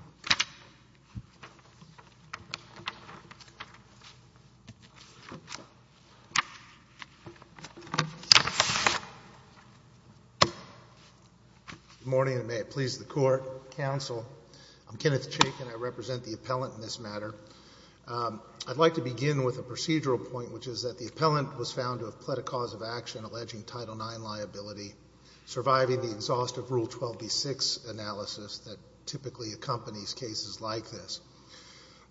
Good morning and may it please the court, counsel. I'm Kenneth Chaik and I represent the appellant in this matter. I'd like to begin with a procedural point, which is that the appellant was found to have pled a cause of action alleging Title IX liability, surviving the exhaustive Rule 12b6 analysis that typically accompanies cases like this.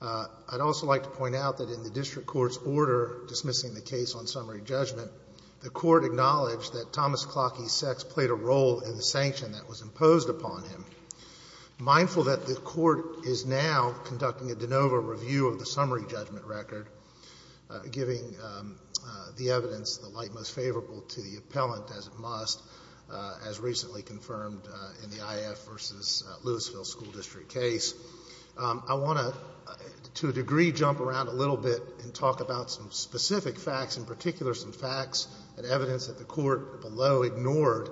I'd also like to point out that in the district court's order dismissing the case on summary judgment, the court acknowledged that Thomas Klocke's sex played a role in the sanction that was imposed upon him. Mindful that the court is now conducting a de novo review of the summary judgment record, giving the evidence the light most favorable to the case that was recently confirmed in the IAF v. Lewisville school district case. I want to, to a degree, jump around a little bit and talk about some specific facts, in particular some facts and evidence that the court below ignored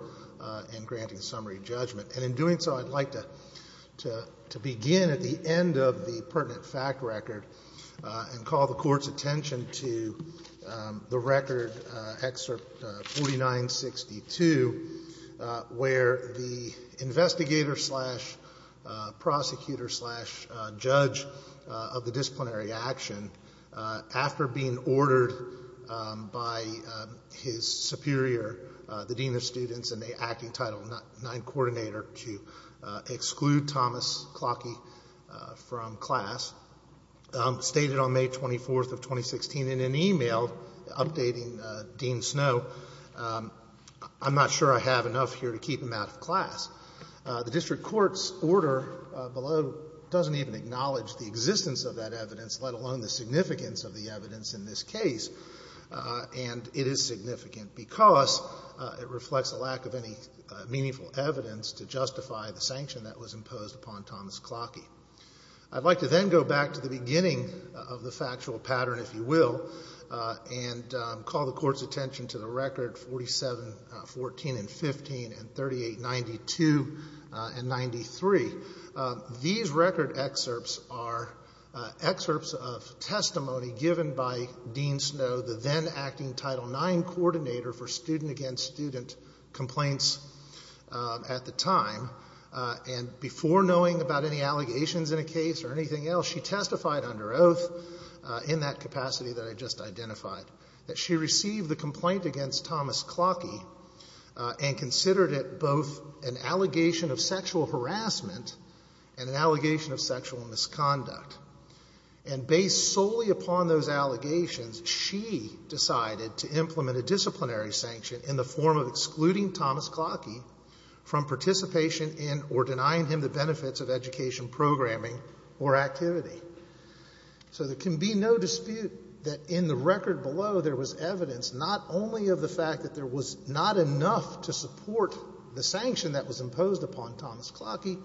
in granting summary judgment. And in doing so, I'd like to begin at the end of the pertinent fact record and call the Court's attention to the record, Excerpt 4962, which is the where the investigator slash prosecutor slash judge of the disciplinary action, after being ordered by his superior, the dean of students and the acting Title IX coordinator to exclude Thomas Klocke from class, stated on May 24th of 2016 in an email updating Dean Snow, I'm not sure I have enough here to keep him out of class. The district court's order below doesn't even acknowledge the existence of that evidence, let alone the significance of the evidence in this case. And it is significant because it reflects a lack of any meaningful evidence to justify the sanction that was imposed upon Thomas Klocke. I'd like to then go back to the beginning of the factual pattern, if you will, and call the Court's attention to the record 4714 and 15 and 3892 and 93. These record excerpts are excerpts of testimony given by Dean Snow, the then acting Title IX coordinator for student-against-student complaints at the time. And before knowing about any allegations in a case or anything else, she testified under oath in that capacity that I just identified, that she received the complaint against Thomas Klocke and considered it both an allegation of sexual harassment and an allegation of sexual misconduct. And based solely upon those allegations, she decided to implement a disciplinary sanction in the form of excluding Thomas Klocke from participation in or denying him the benefits of education programming or activity. So there can be no dispute that in the record below there was evidence not only of the fact that there was not enough to support the sanction that was imposed upon Thomas Klocke,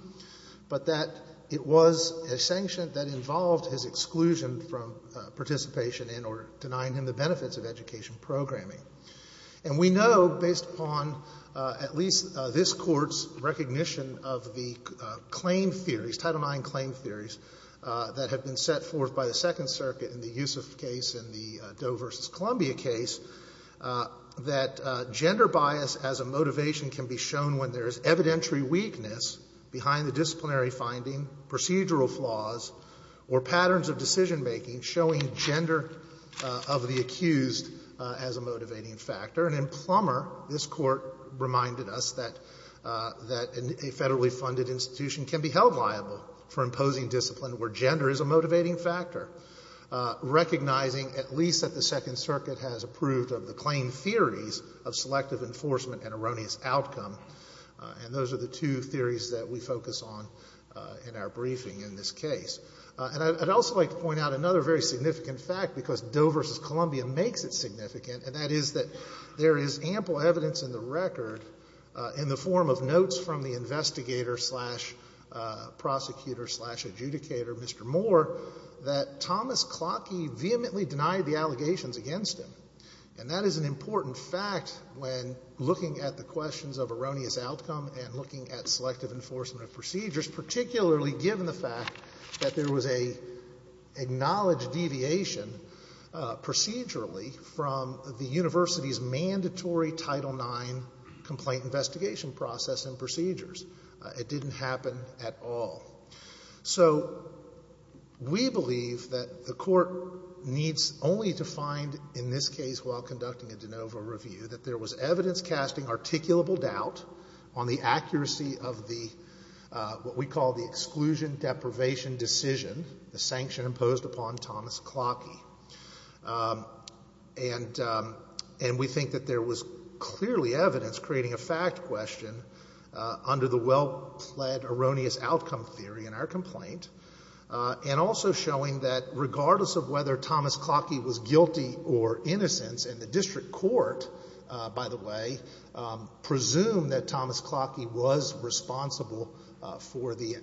but that it was a sanction that involved his exclusion from participation in or denying him the benefits of education programming. And we know, based upon at least this Court's recognition of the claim theories, Title IX claim theories that have been set forth by the Second Circuit in the Yusuf case and the Doe v. Columbia case, that gender bias as a motivation can be shown when there is evidentiary weakness behind the disciplinary finding, procedural flaws, or patterns of decisionmaking showing gender of the accused as a motivating factor. And in Plummer, this Court reminded us that a federally funded institution can be held liable for imposing discipline where gender is a motivating factor, recognizing at least that the Second Circuit has approved of the claim theories of selective enforcement and erroneous outcome. And those are the two theories that we focus on in our briefing in this case. And I'd also like to point out another very significant fact, because Doe v. Columbia makes it significant, and that is that there is ample evidence in the record in the form of notes from the investigator-slash-prosecutor-slash-adjudicator, Mr. Moore, that Thomas Clocke vehemently denied the allegations against him. And that is an important fact when looking at the questions of erroneous outcome and looking at selective enforcement of procedures, particularly given the fact that there was an acknowledged deviation procedurally from the university's mandatory Title IX complaint investigation process and procedures. It didn't happen at all. So we believe that the Court needs only to find in this case, while conducting a de novo review, that there was evidence casting articulable doubt on the accuracy of what we call the exclusion-deprivation decision, the sanction imposed upon Thomas Clocke. And we think that there was clearly evidence creating a fact question under the well-pled erroneous outcome theory in our complaint, and also showing that regardless of whether Thomas Clocke was guilty or innocent, and the District Court, by the way, presumed that Thomas Clocke was responsible for the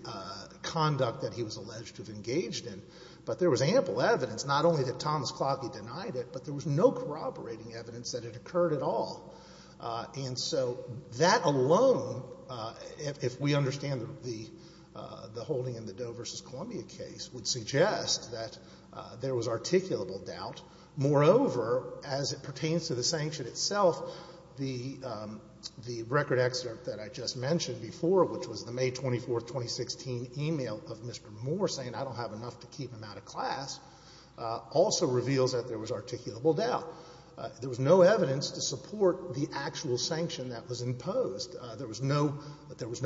conduct that he was Thomas Clocke denied it, but there was no corroborating evidence that it occurred at all. And so that alone, if we understand the holding in the Doe v. Columbia case, would suggest that there was articulable doubt. Moreover, as it pertains to the sanction itself, the record excerpt that I just mentioned before, which was the May 24th, 2016, email of Mr. Moore saying, I don't have enough to keep him out of class, also reveals that there was articulable doubt. There was no evidence to support the actual sanction that was imposed. There was no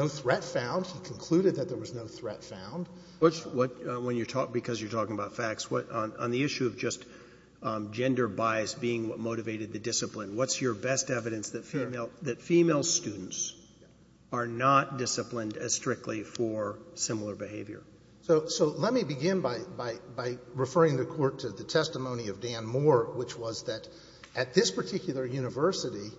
threat found. He concluded that there was no threat found. Roberts. When you're talking about facts, on the issue of just gender bias being what motivated the discipline, what's your best evidence that female students are not disciplined as strictly for similar behavior? So let me begin by referring the Court to the testimony of Dan Moore, which was that at this particular university,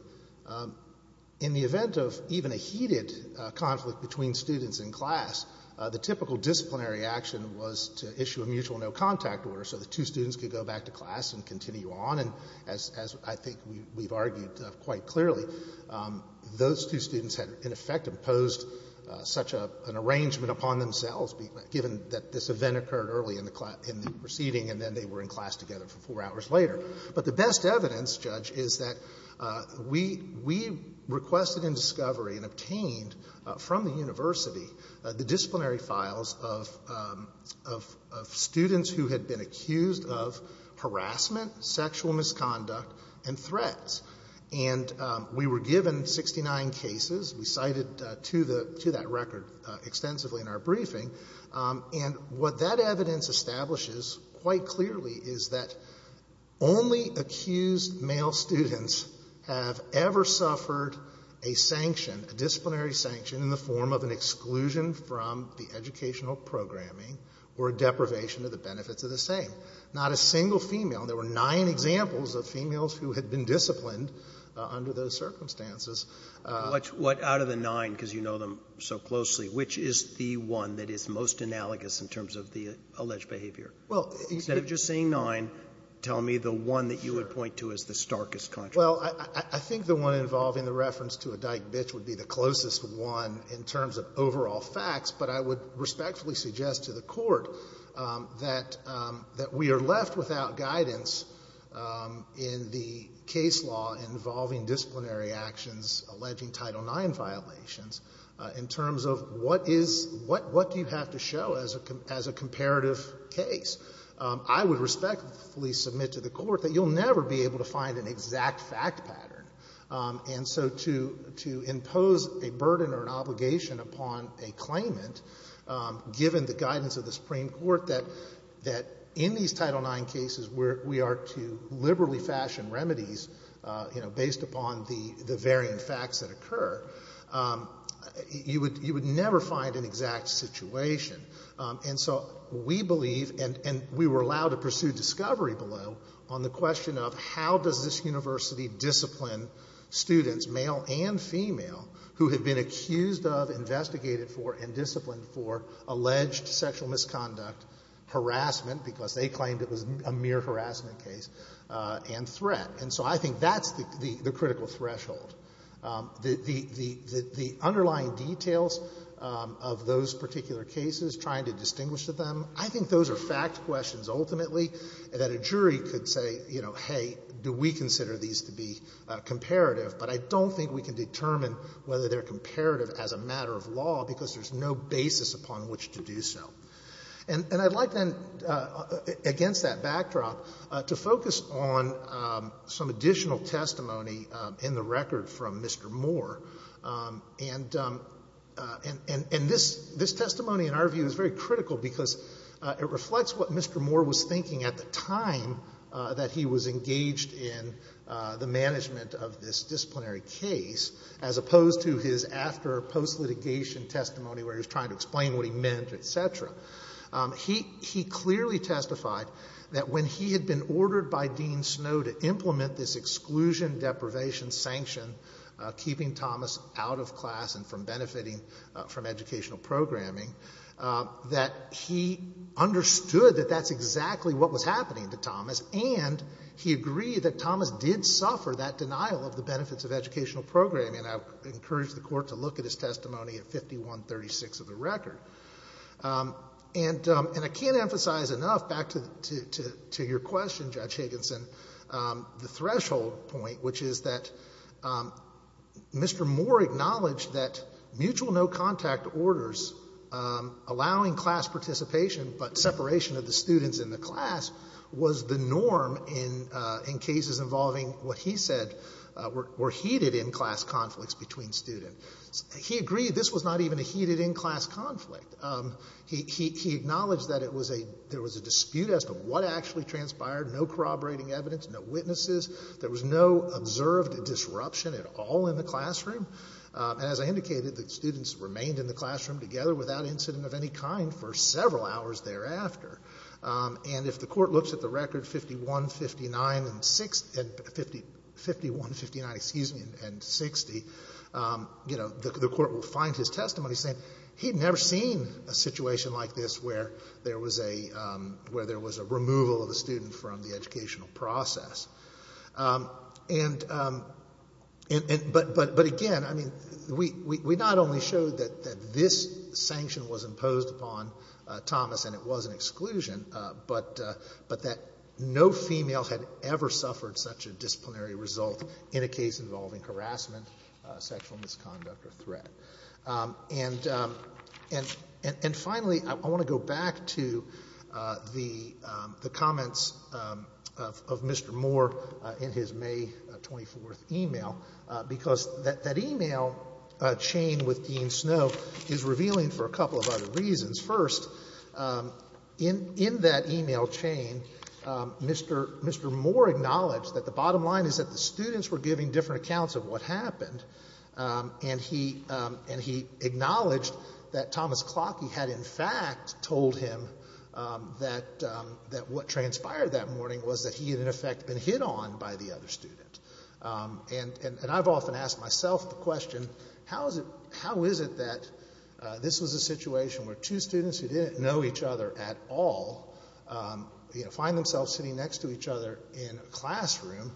in the event of even a heated conflict between students in class, the typical disciplinary action was to issue a mutual no-contact order so the two students could go back to class and continue on. And as I think we've argued quite clearly, those two students had in effect imposed such an arrangement upon themselves, given that this event occurred early in the proceeding and then they were in class together for four hours later. But the best evidence, Judge, is that we requested in discovery and obtained from the university the disciplinary files of students who had been accused of harassment, sexual misconduct, and threats. And we were given 69 cases. We cited to that record extensively in our briefing. And what that evidence establishes quite clearly is that only accused male students have ever suffered a sanction, a disciplinary sanction, in the form of an exclusion from the educational programming or a deprivation of the benefits of the same. Not a single female. There were nine examples of females who had been disciplined under those circumstances. Roberts. What out of the nine, because you know them so closely, which is the one that is most analogous in terms of the alleged behavior? Instead of just saying nine, tell me the one that you would point to as the starkest contradiction. Well, I think the one involving the reference to a dyke bitch would be the closest one in terms of overall facts. But I would respectfully suggest to the Court that we are left without guidance in the case law involving disciplinary actions alleging Title IX violations in terms of what do you have to show as a comparative case. I would respectfully submit to the Court that you will never be able to find an exact fact pattern. And so to impose a burden or an obligation upon a claimant, given the guidance of the Supreme Court that in these Title IX cases we are to liberally fashion remedies based upon the variant facts that occur, you would never find an exact situation. And so we believe, and we were allowed to pursue discovery below, on the discipline students, male and female, who had been accused of, investigated for, and disciplined for alleged sexual misconduct, harassment, because they claimed it was a mere harassment case, and threat. And so I think that's the critical threshold. The underlying details of those particular cases, trying to distinguish them, I think those are fact questions, ultimately, that a jury could say, you know, hey, do we consider these to be comparative, but I don't think we can determine whether they're comparative as a matter of law because there's no basis upon which to do so. And I'd like, then, against that backdrop, to focus on some additional testimony in the record from Mr. Moore. And this testimony, in our view, is very critical because it reflects what Mr. Moore was thinking at the time that he was engaged in the management of this disciplinary case, as opposed to his after or post-litigation testimony where he was trying to explain what he meant, et cetera. He clearly testified that when he had been ordered by Dean Snow to implement this exclusion deprivation sanction, keeping Thomas out of class and from benefiting from educational programming, that he understood that that's exactly what was happening to Thomas, and he agreed that Thomas did suffer that denial of the benefits of educational programming. And I encourage the Court to look at his testimony at 51-36 of the record. And I can't emphasize enough, back to your question, Judge Higginson, the threshold point, which is that Mr. Moore acknowledged that mutual no-contact orders allowing class participation but separation of the students in the class was the norm in cases involving what he said were heated in-class conflicts between students. He agreed this was not even a heated in-class conflict. He acknowledged that there was a dispute as to what actually transpired, no corroborating evidence, no witnesses. There was no observed disruption at all in the classroom. And as I indicated, the students remained in the classroom together without incident of any kind for several hours thereafter. And if the Court looks at the record 51-59 and 60, the Court will find his testimony saying he'd never seen a situation like this where there was a removal of a student from the educational process. But again, I mean, we not only showed that this sanction was imposed upon Thomas and it was an exclusion, but that no female had ever suffered such a disciplinary result in a case involving harassment, sexual misconduct, or threat. And finally, I want to go back to the comments of Mr. Moore in his May 24th email, because that email chain with Dean Snow is revealing for a couple of other reasons. First, in that email chain, Mr. Moore acknowledged that the bottom line is that the students were giving different accounts of what happened, and he acknowledged that Thomas Clocke had in fact told him that what transpired that morning was that he had in effect been hit on by the other student. And I've often asked myself the question, how is it that this was a situation where two students who didn't know each other at all find themselves sitting next to each other in a classroom,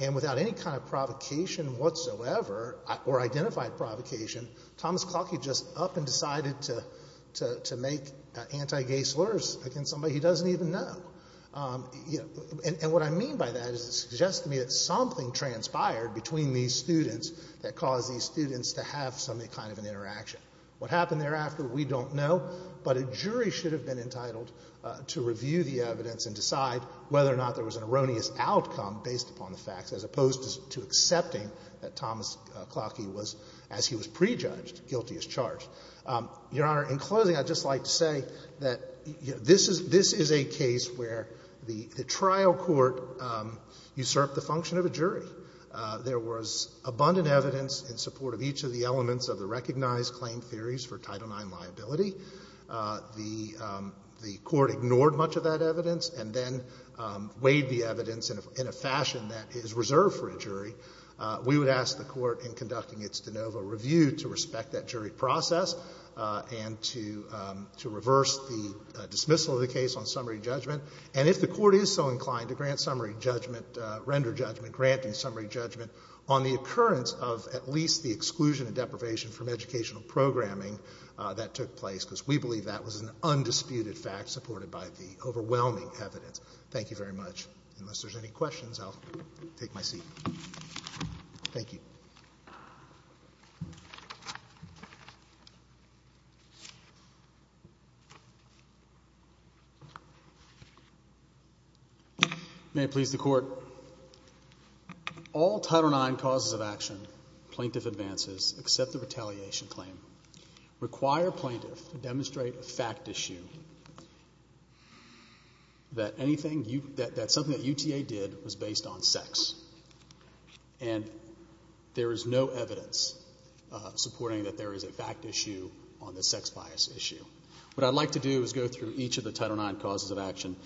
and without any kind of provocation whatsoever, or identified provocation, Thomas Clocke had just up and decided to make anti-gay slurs against somebody he doesn't even know? And what I mean by that is it suggests to me that something transpired between these students that caused these students to have some kind of an interaction. What happened thereafter, we don't know, but a jury should have been entitled to review the evidence and decide whether or not there was an erroneous outcome based upon the facts, as opposed to accepting that Thomas Clocke was, as he was prejudged, guilty as charged. Your Honor, in closing, I'd just like to say that this is a case where the trial court usurped the function of a jury. There was abundant evidence in support of each of the elements of the recognized claim theories for Title IX liability. The court ignored much of that evidence and then weighed the evidence in a fashion that is reserved for a jury. We would ask the court, in conducting its de novo review, to respect that jury process and to reverse the dismissal of the case on summary judgment. And if the court is so inclined to grant summary judgment, render judgment, granting summary judgment, on the occurrence of at least the exclusion and deprivation from educational programming that took place, because we believe that was an undisputed fact supported by the overwhelming evidence. Thank you very much. Unless there's any questions, I'll take my seat. Thank you. May it please the Court. All Title IX causes of action, plaintiff advances, accept the retaliation claim, require plaintiff to demonstrate a fact issue that something that UTA did was based on sex. And there is no evidence supporting that there is a fact issue on the sex bias issue. What I'd like to do is go through each of the Title IX causes of action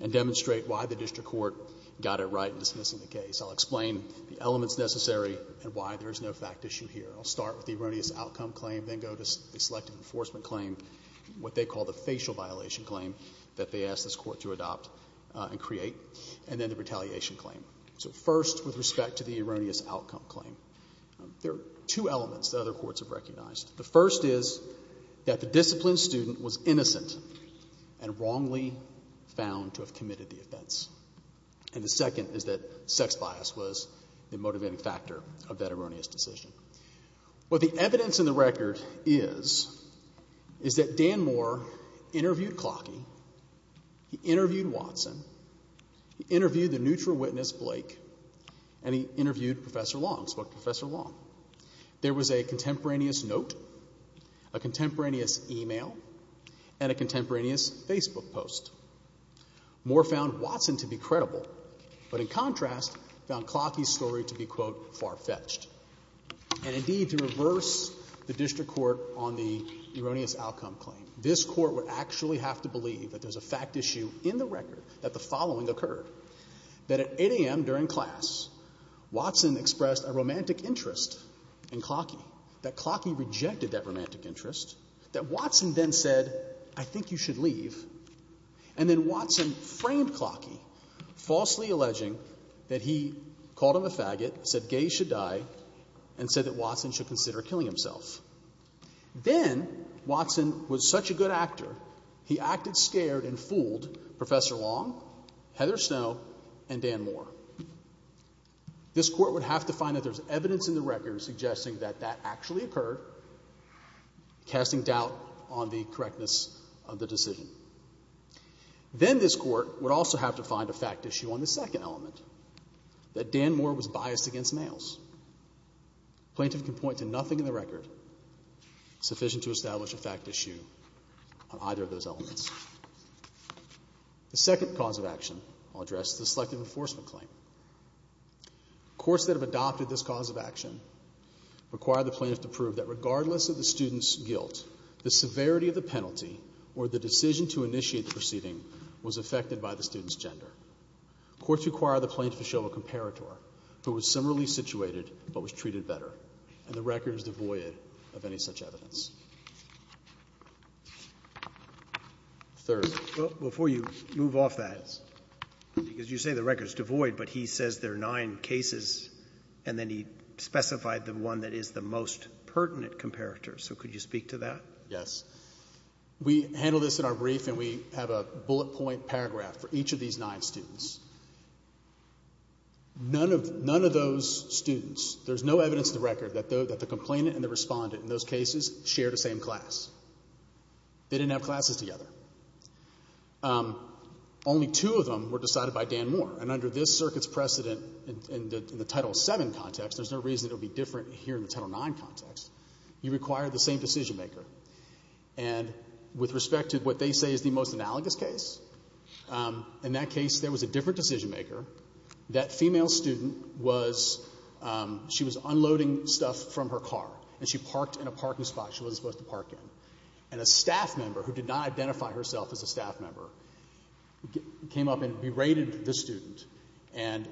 and demonstrate why the district court got it right in dismissing the case. I'll explain the elements necessary and why there is no fact issue here. I'll start with the erroneous outcome claim, then go to the selective enforcement claim, what they call the facial violation claim that they asked this court to adopt and create, and then the retaliation claim. So first, with respect to the erroneous outcome claim, there are two elements that other courts have recognized. The first is that the disciplined student was innocent and wrongly found to have committed the offense. And the second is that sex bias was the motivating factor of that erroneous decision. What the evidence in the record is, is that Dan Moore interviewed Clockie, he interviewed Watson, he interviewed the neutral witness, Blake, and he interviewed Professor Long, spoke to Professor Long. There was a contemporaneous note, a contemporaneous e-mail, and a contemporaneous Facebook post. Moore found Watson to be credible, but in contrast, found Clockie's story to be, quote, far-fetched. And indeed, to reverse the district court on the erroneous outcome claim, this Court would actually have to believe that there's a fact issue in the record that the following occurred, that at 8 a.m. during class, Watson expressed a romantic interest in Clockie, that Clockie rejected that romantic interest, that Watson then said, I think you should leave, and then Watson framed Clockie, falsely alleging that he called him a faggot, said gays should die, and said that Watson should consider killing himself. Then Watson was such a good actor, he acted scared and fooled Professor Long, Heather Snow, and Dan Moore. This Court would have to find that there's evidence in the record suggesting that that actually occurred, casting doubt on the correctness of the decision. Then this Court would also have to find a fact issue on the second element, that Dan Moore was biased against males. Plaintiff can point to nothing in the record sufficient to establish a fact issue on either of those elements. The second cause of action I'll address is the selective enforcement claim. Courts that have adopted this cause of action require the plaintiff to prove that regardless of the student's guilt, the severity of the penalty or the decision to initiate the proceeding was affected by the student's gender. Courts require the plaintiff to show a comparator who was similarly situated but was treated better, and the record is devoid of any such evidence. Third. Well, before you move off that, because you say the record's devoid, but he says there are nine cases and then he specified the one that is the most pertinent comparator. So could you speak to that? Yes. We handle this in our brief and we have a bullet point paragraph for each of these nine students. None of those students, there's no evidence in the record that the complainant and the respondent in those cases shared the same class. They didn't have classes together. Only two of them were decided by Dan Moore, and under this circuit's precedent in the Title VII context, there's no reason it would be different here in the Title IX context. You require the same decision-maker. And with respect to what they say is the most analogous case, in that case there was a different decision-maker. That female student was unloading stuff from her car, and she parked in a parking spot she wasn't supposed to park in. And a staff member who did not identify herself as a staff member came up and berated the student and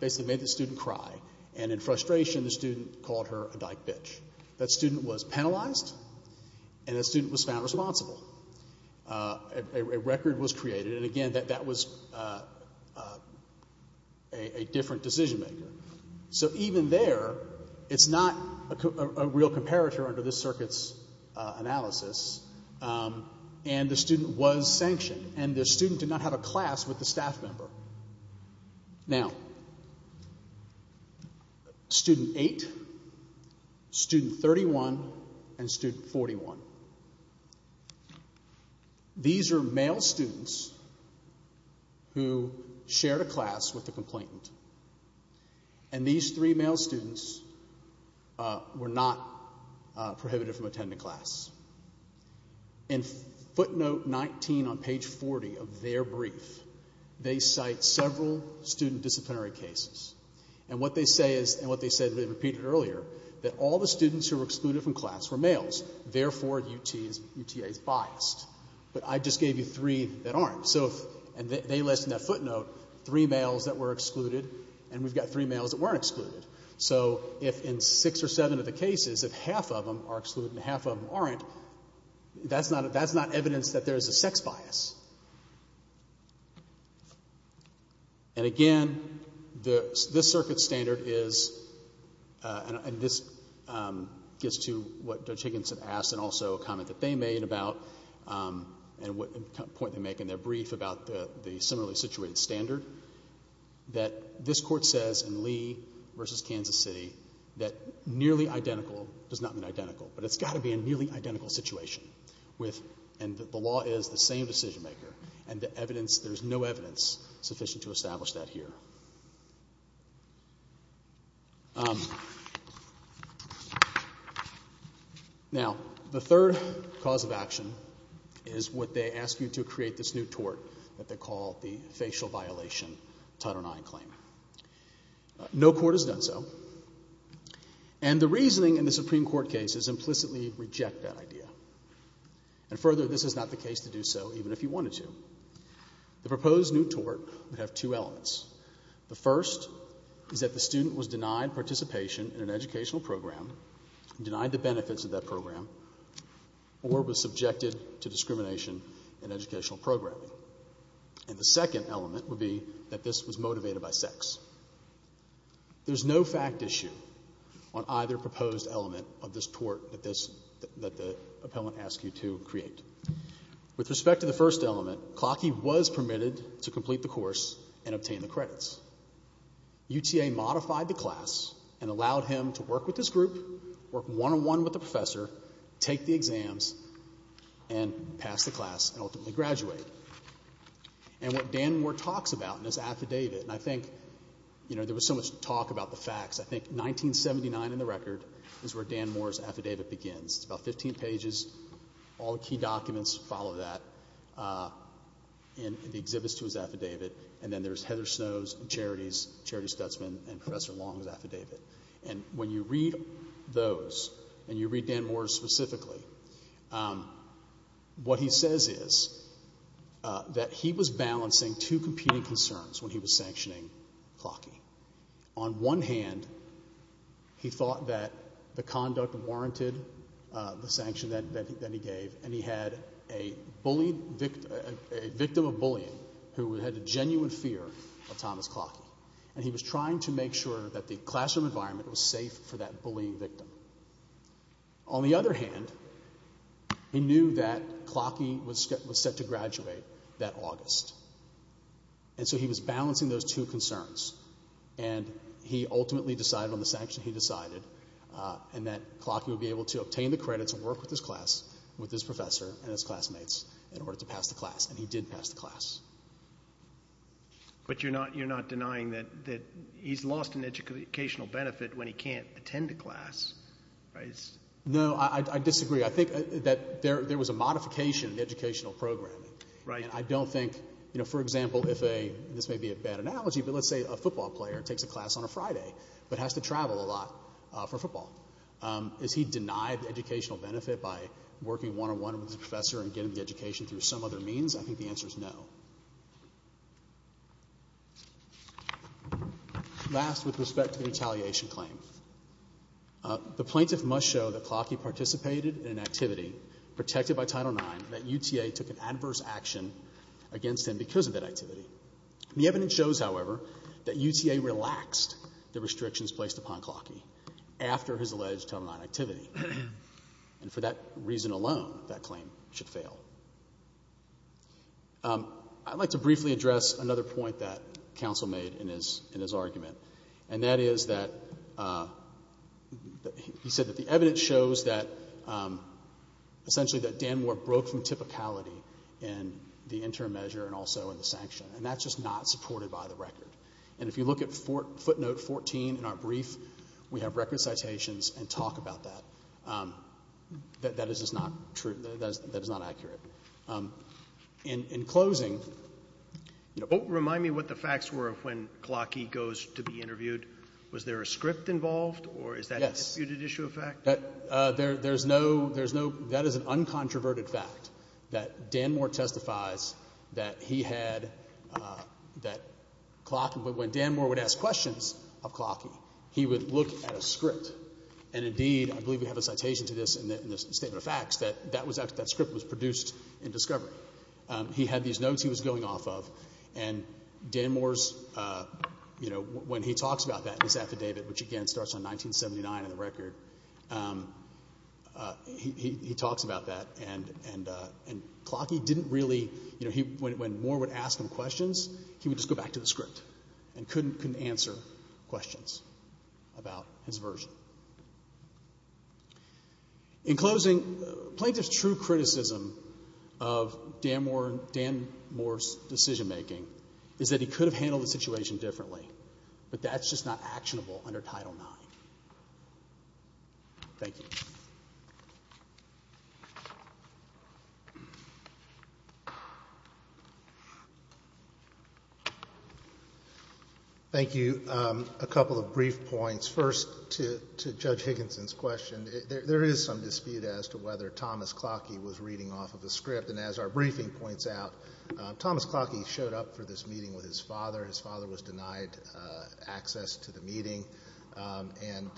basically made the student cry, and in frustration the student called her a dyke bitch. That student was penalized and the student was found responsible. A record was created, and again, that was a different decision-maker. So even there, it's not a real comparator under this circuit's analysis, and the student was sanctioned, and the student did not have a class with the staff member. Now, Student 8, Student 31, and Student 32, who shared a class with the complainant, and these three male students were not prohibited from attending class. In footnote 19 on page 40 of their brief, they cite several student disciplinary cases. And what they say is, and what they said they repeated earlier, that all the students who were excluded from class were males, therefore UTA is biased. But I just gave you three that aren't. And they list in that footnote three males that were excluded, and we've got three males that weren't excluded. So if in six or seven of the cases, if half of them are excluded and half of them aren't, that's not evidence that there is a sex bias. And again, this circuit's standard is, and this gets to what Judge Higginson asked and also a comment that they made about, and what point they make in their brief about the similarly situated standard, that this Court says in Lee v. Kansas City that nearly identical does not mean identical, but it's got to be a nearly identical situation. And the law is the same decision maker, and there's no evidence sufficient to establish that here. Now, the third cause of action is what they ask you to create this new tort that they call the facial violation Title IX claim. No court has done so, and the reasoning in the Supreme Court case is implicitly reject that idea. And further, this is not the case to do so, even if you wanted to. The proposed new tort would have two elements. The first is that the student was denied participation in an educational program, denied the benefits of that program, or was subjected to discrimination in educational programming. And the second element would be that this was motivated by sex. There's no fact issue on either proposed element of this tort that this, that the appellant asked you to create. With respect to the first element, Clockie was permitted to complete the course and obtain the credits. UTA modified the class and allowed him to work with this group, work one-on-one with the professor, take the exams, and pass the class and ultimately graduate. And what Dan Moore talks about in his affidavit, and I think, you know, there was so much talk about the facts. I think 1979 in the record is where Dan Moore's affidavit begins. It's about 15 pages. All the key documents follow that in the exhibits to his affidavit. And then there's Heather Snow's, Charity's, Charity Stutzman, and Professor Long's affidavit. And when you read those, and you read Dan Moore's specifically, what he says is that he was balancing two competing concerns when he was sanctioning Clockie. On one hand, he thought that the conduct warranted the sanction that he gave, and he had a victim of bullying who had a genuine fear of Thomas Clockie. And he was trying to make sure that the classroom environment was safe for that bullying victim. On the other hand, he knew that Clockie was set to graduate that August. And so he was balancing those two concerns, and he ultimately decided on the sanction he decided, and that Clockie would be able to obtain the credits and work with his class, with his professor and his classmates in order to pass the class. And he did pass the class. But you're not denying that he's lost an educational benefit when he can't attend a class, right? No, I disagree. I think that there was a modification in the educational program. And I don't think, you know, for example, this may be a bad analogy, but let's say a football player takes a class on a Friday but has to travel a lot for football. Is he denied the educational benefit by working one-on-one with his professor and getting the education through some other means? I think the answer is no. Last, with respect to the retaliation claim, the plaintiff must show that Clockie participated in an activity protected by Title IX, that UTA took an adverse action against him because of that activity. The evidence shows, however, that UTA relaxed the restrictions placed upon Clockie after his alleged Title IX activity. And for that reason alone, that claim should fail. I'd like to briefly address another point that counsel made in his argument, and that is that he said that the evidence shows that essentially that Dan Moore broke from typicality in the interim measure and also in the sanction. And that's just not supported by the record. And if you look at footnote 14 in our brief, we have record citations and talk about that. That is just not true. That is not accurate. In closing... Remind me what the facts were of when Clockie goes to be interviewed. Was there a script involved? Or is that a disputed issue of fact? That is an uncontroverted fact, that Dan Moore testifies that he had... that when Dan Moore would ask questions of Clockie, he would look at a script. And indeed, I believe we have a citation to this in the Statement of Facts, that that script was produced in discovery. He had these notes he was going off of, and Dan Moore's... 1979 on the record, he talks about that. And Clockie didn't really... when Moore would ask him questions, he would just go back to the script and couldn't answer questions about his version. In closing, plaintiff's true criticism of Dan Moore's decision-making is that he could have handled the situation differently, but that's just not actionable under Title IX. Thank you. Thank you. A couple of brief points. First, to Judge Higginson's question, there is some dispute as to whether Thomas Clockie was reading off of a script, and as our briefing points out, Thomas Clockie showed up for this meeting with his father. His father was denied access to the meeting, and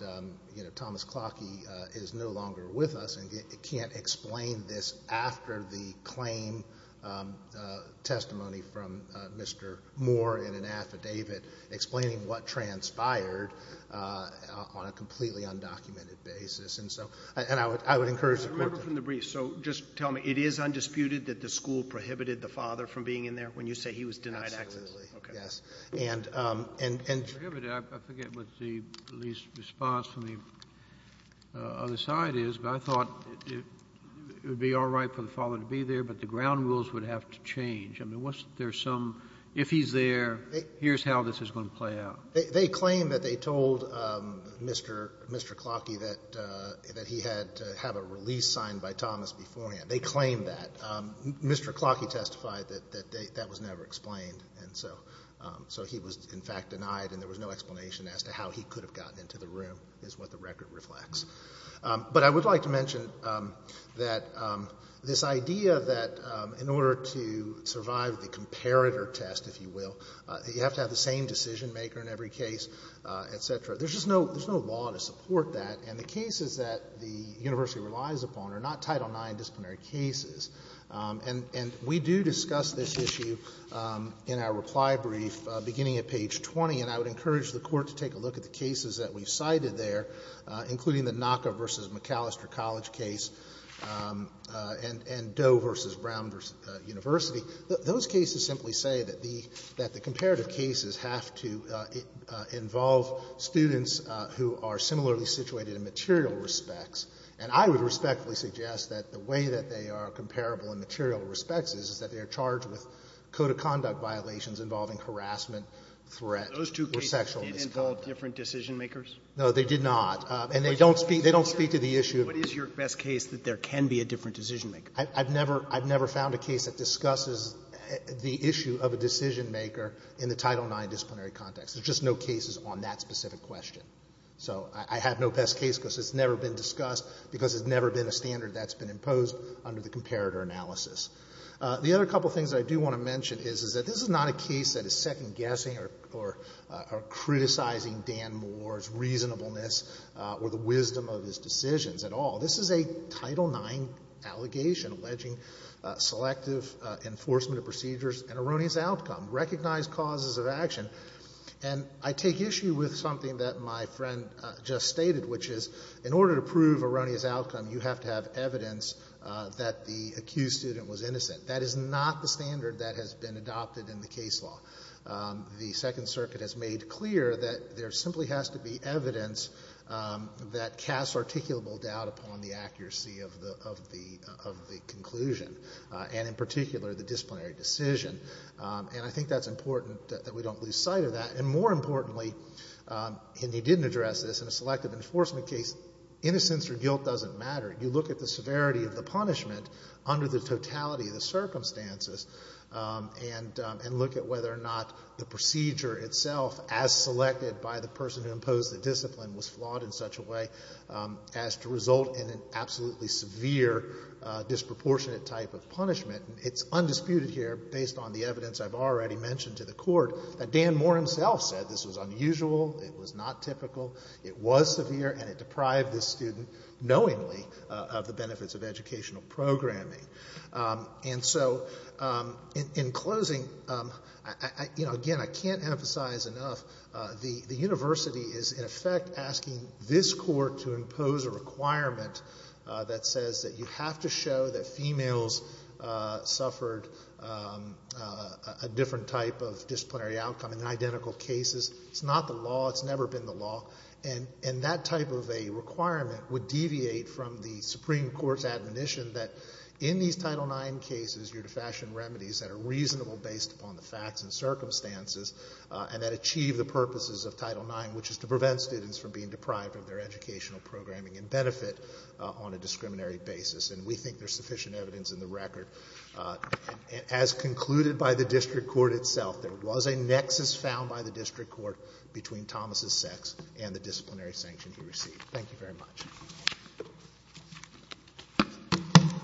Thomas Clockie is no longer with us and can't explain this after the claim testimony from Mr. Moore in an affidavit, explaining what transpired on a completely undocumented basis. And so I would encourage the plaintiff... Absolutely, yes. I thought it would be all right for the father to be there, but the ground rules would have to change. If he's there, here's how this is going to play out. Mr. Clockie testified that he had to have a release signed by Thomas beforehand. They claimed that. Mr. Clockie testified that that was never explained, and so he was in fact denied and there was no explanation as to how he could have gotten into the room is what the record reflects. But I would like to mention that this idea that in order to survive the comparator test, if you will, you have to have the same decision-maker in every case, et cetera, there's just no law to support that. And the cases that the university relies upon are not Title IX disciplinary cases. And we do discuss this issue in our reply brief beginning at page 20, and I would encourage the Court to take a look at the cases that we've cited there, including the NACA v. McAllister College case and Doe v. Brown v. University. Those cases simply say that the comparative cases have to involve students who are similarly situated in material respects, and I would respectfully suggest that the way that they are comparable in material respects is that they are charged with code of conduct violations involving harassment, threat, or sexual misconduct. No, they did not. And they don't speak to the issue of... What is your best case that there can be a different decision-maker? I've never found a case that discusses the issue of a decision-maker in the Title IX disciplinary context. There's just no cases on that specific question. So I have no best case because it's never been discussed because it's never been a standard that's been imposed under the comparator analysis. The other couple of things that I do want to mention is that this is not a case that is second-guessing or criticizing Dan Moore's reasonableness or the wisdom of his decisions at all. This is a Title IX allegation alleging selective enforcement of procedures and erroneous outcome, recognized causes of action. And I take issue with something that my friend just stated, which is in order to prove innocent, that is not the standard that has been adopted in the case law. The Second Circuit has made clear that there simply has to be evidence that casts articulable doubt upon the accuracy of the conclusion, and in particular, the disciplinary decision. And I think that's important that we don't lose sight of that. And more importantly, and he didn't address this, in a selective enforcement case, innocence or guilt doesn't matter. You look at the severity of the punishment under the totality of the circumstances and look at whether or not the procedure itself, as selected by the person who imposed the discipline, was flawed in such a way as to result in an absolutely severe disproportionate type of punishment. It's undisputed here, based on the evidence I've already mentioned to the Court, that Dan Moore himself said this was unusual, it was not typical, it was severe, and it deprived this student, knowingly, of the benefits of educational programming. And so, in closing, again, I can't emphasize enough, the University is, in effect, asking this Court to impose a requirement that says that you have to show that females suffered a different type of disciplinary outcome in identical cases. It's not the law. It's never been the law. And that type of a requirement would deviate from the Supreme Court's admonition that in these Title IX cases, you're to fashion remedies that are reasonable based upon the facts and circumstances, and that achieve the purposes of Title IX, which is to prevent students from being deprived of their educational programming and benefit on a discriminatory basis. And we think there's As concluded by the district court itself, there was a nexus found by the district court between Thomas' sex and the disciplinary sanction he received. Thank you very much.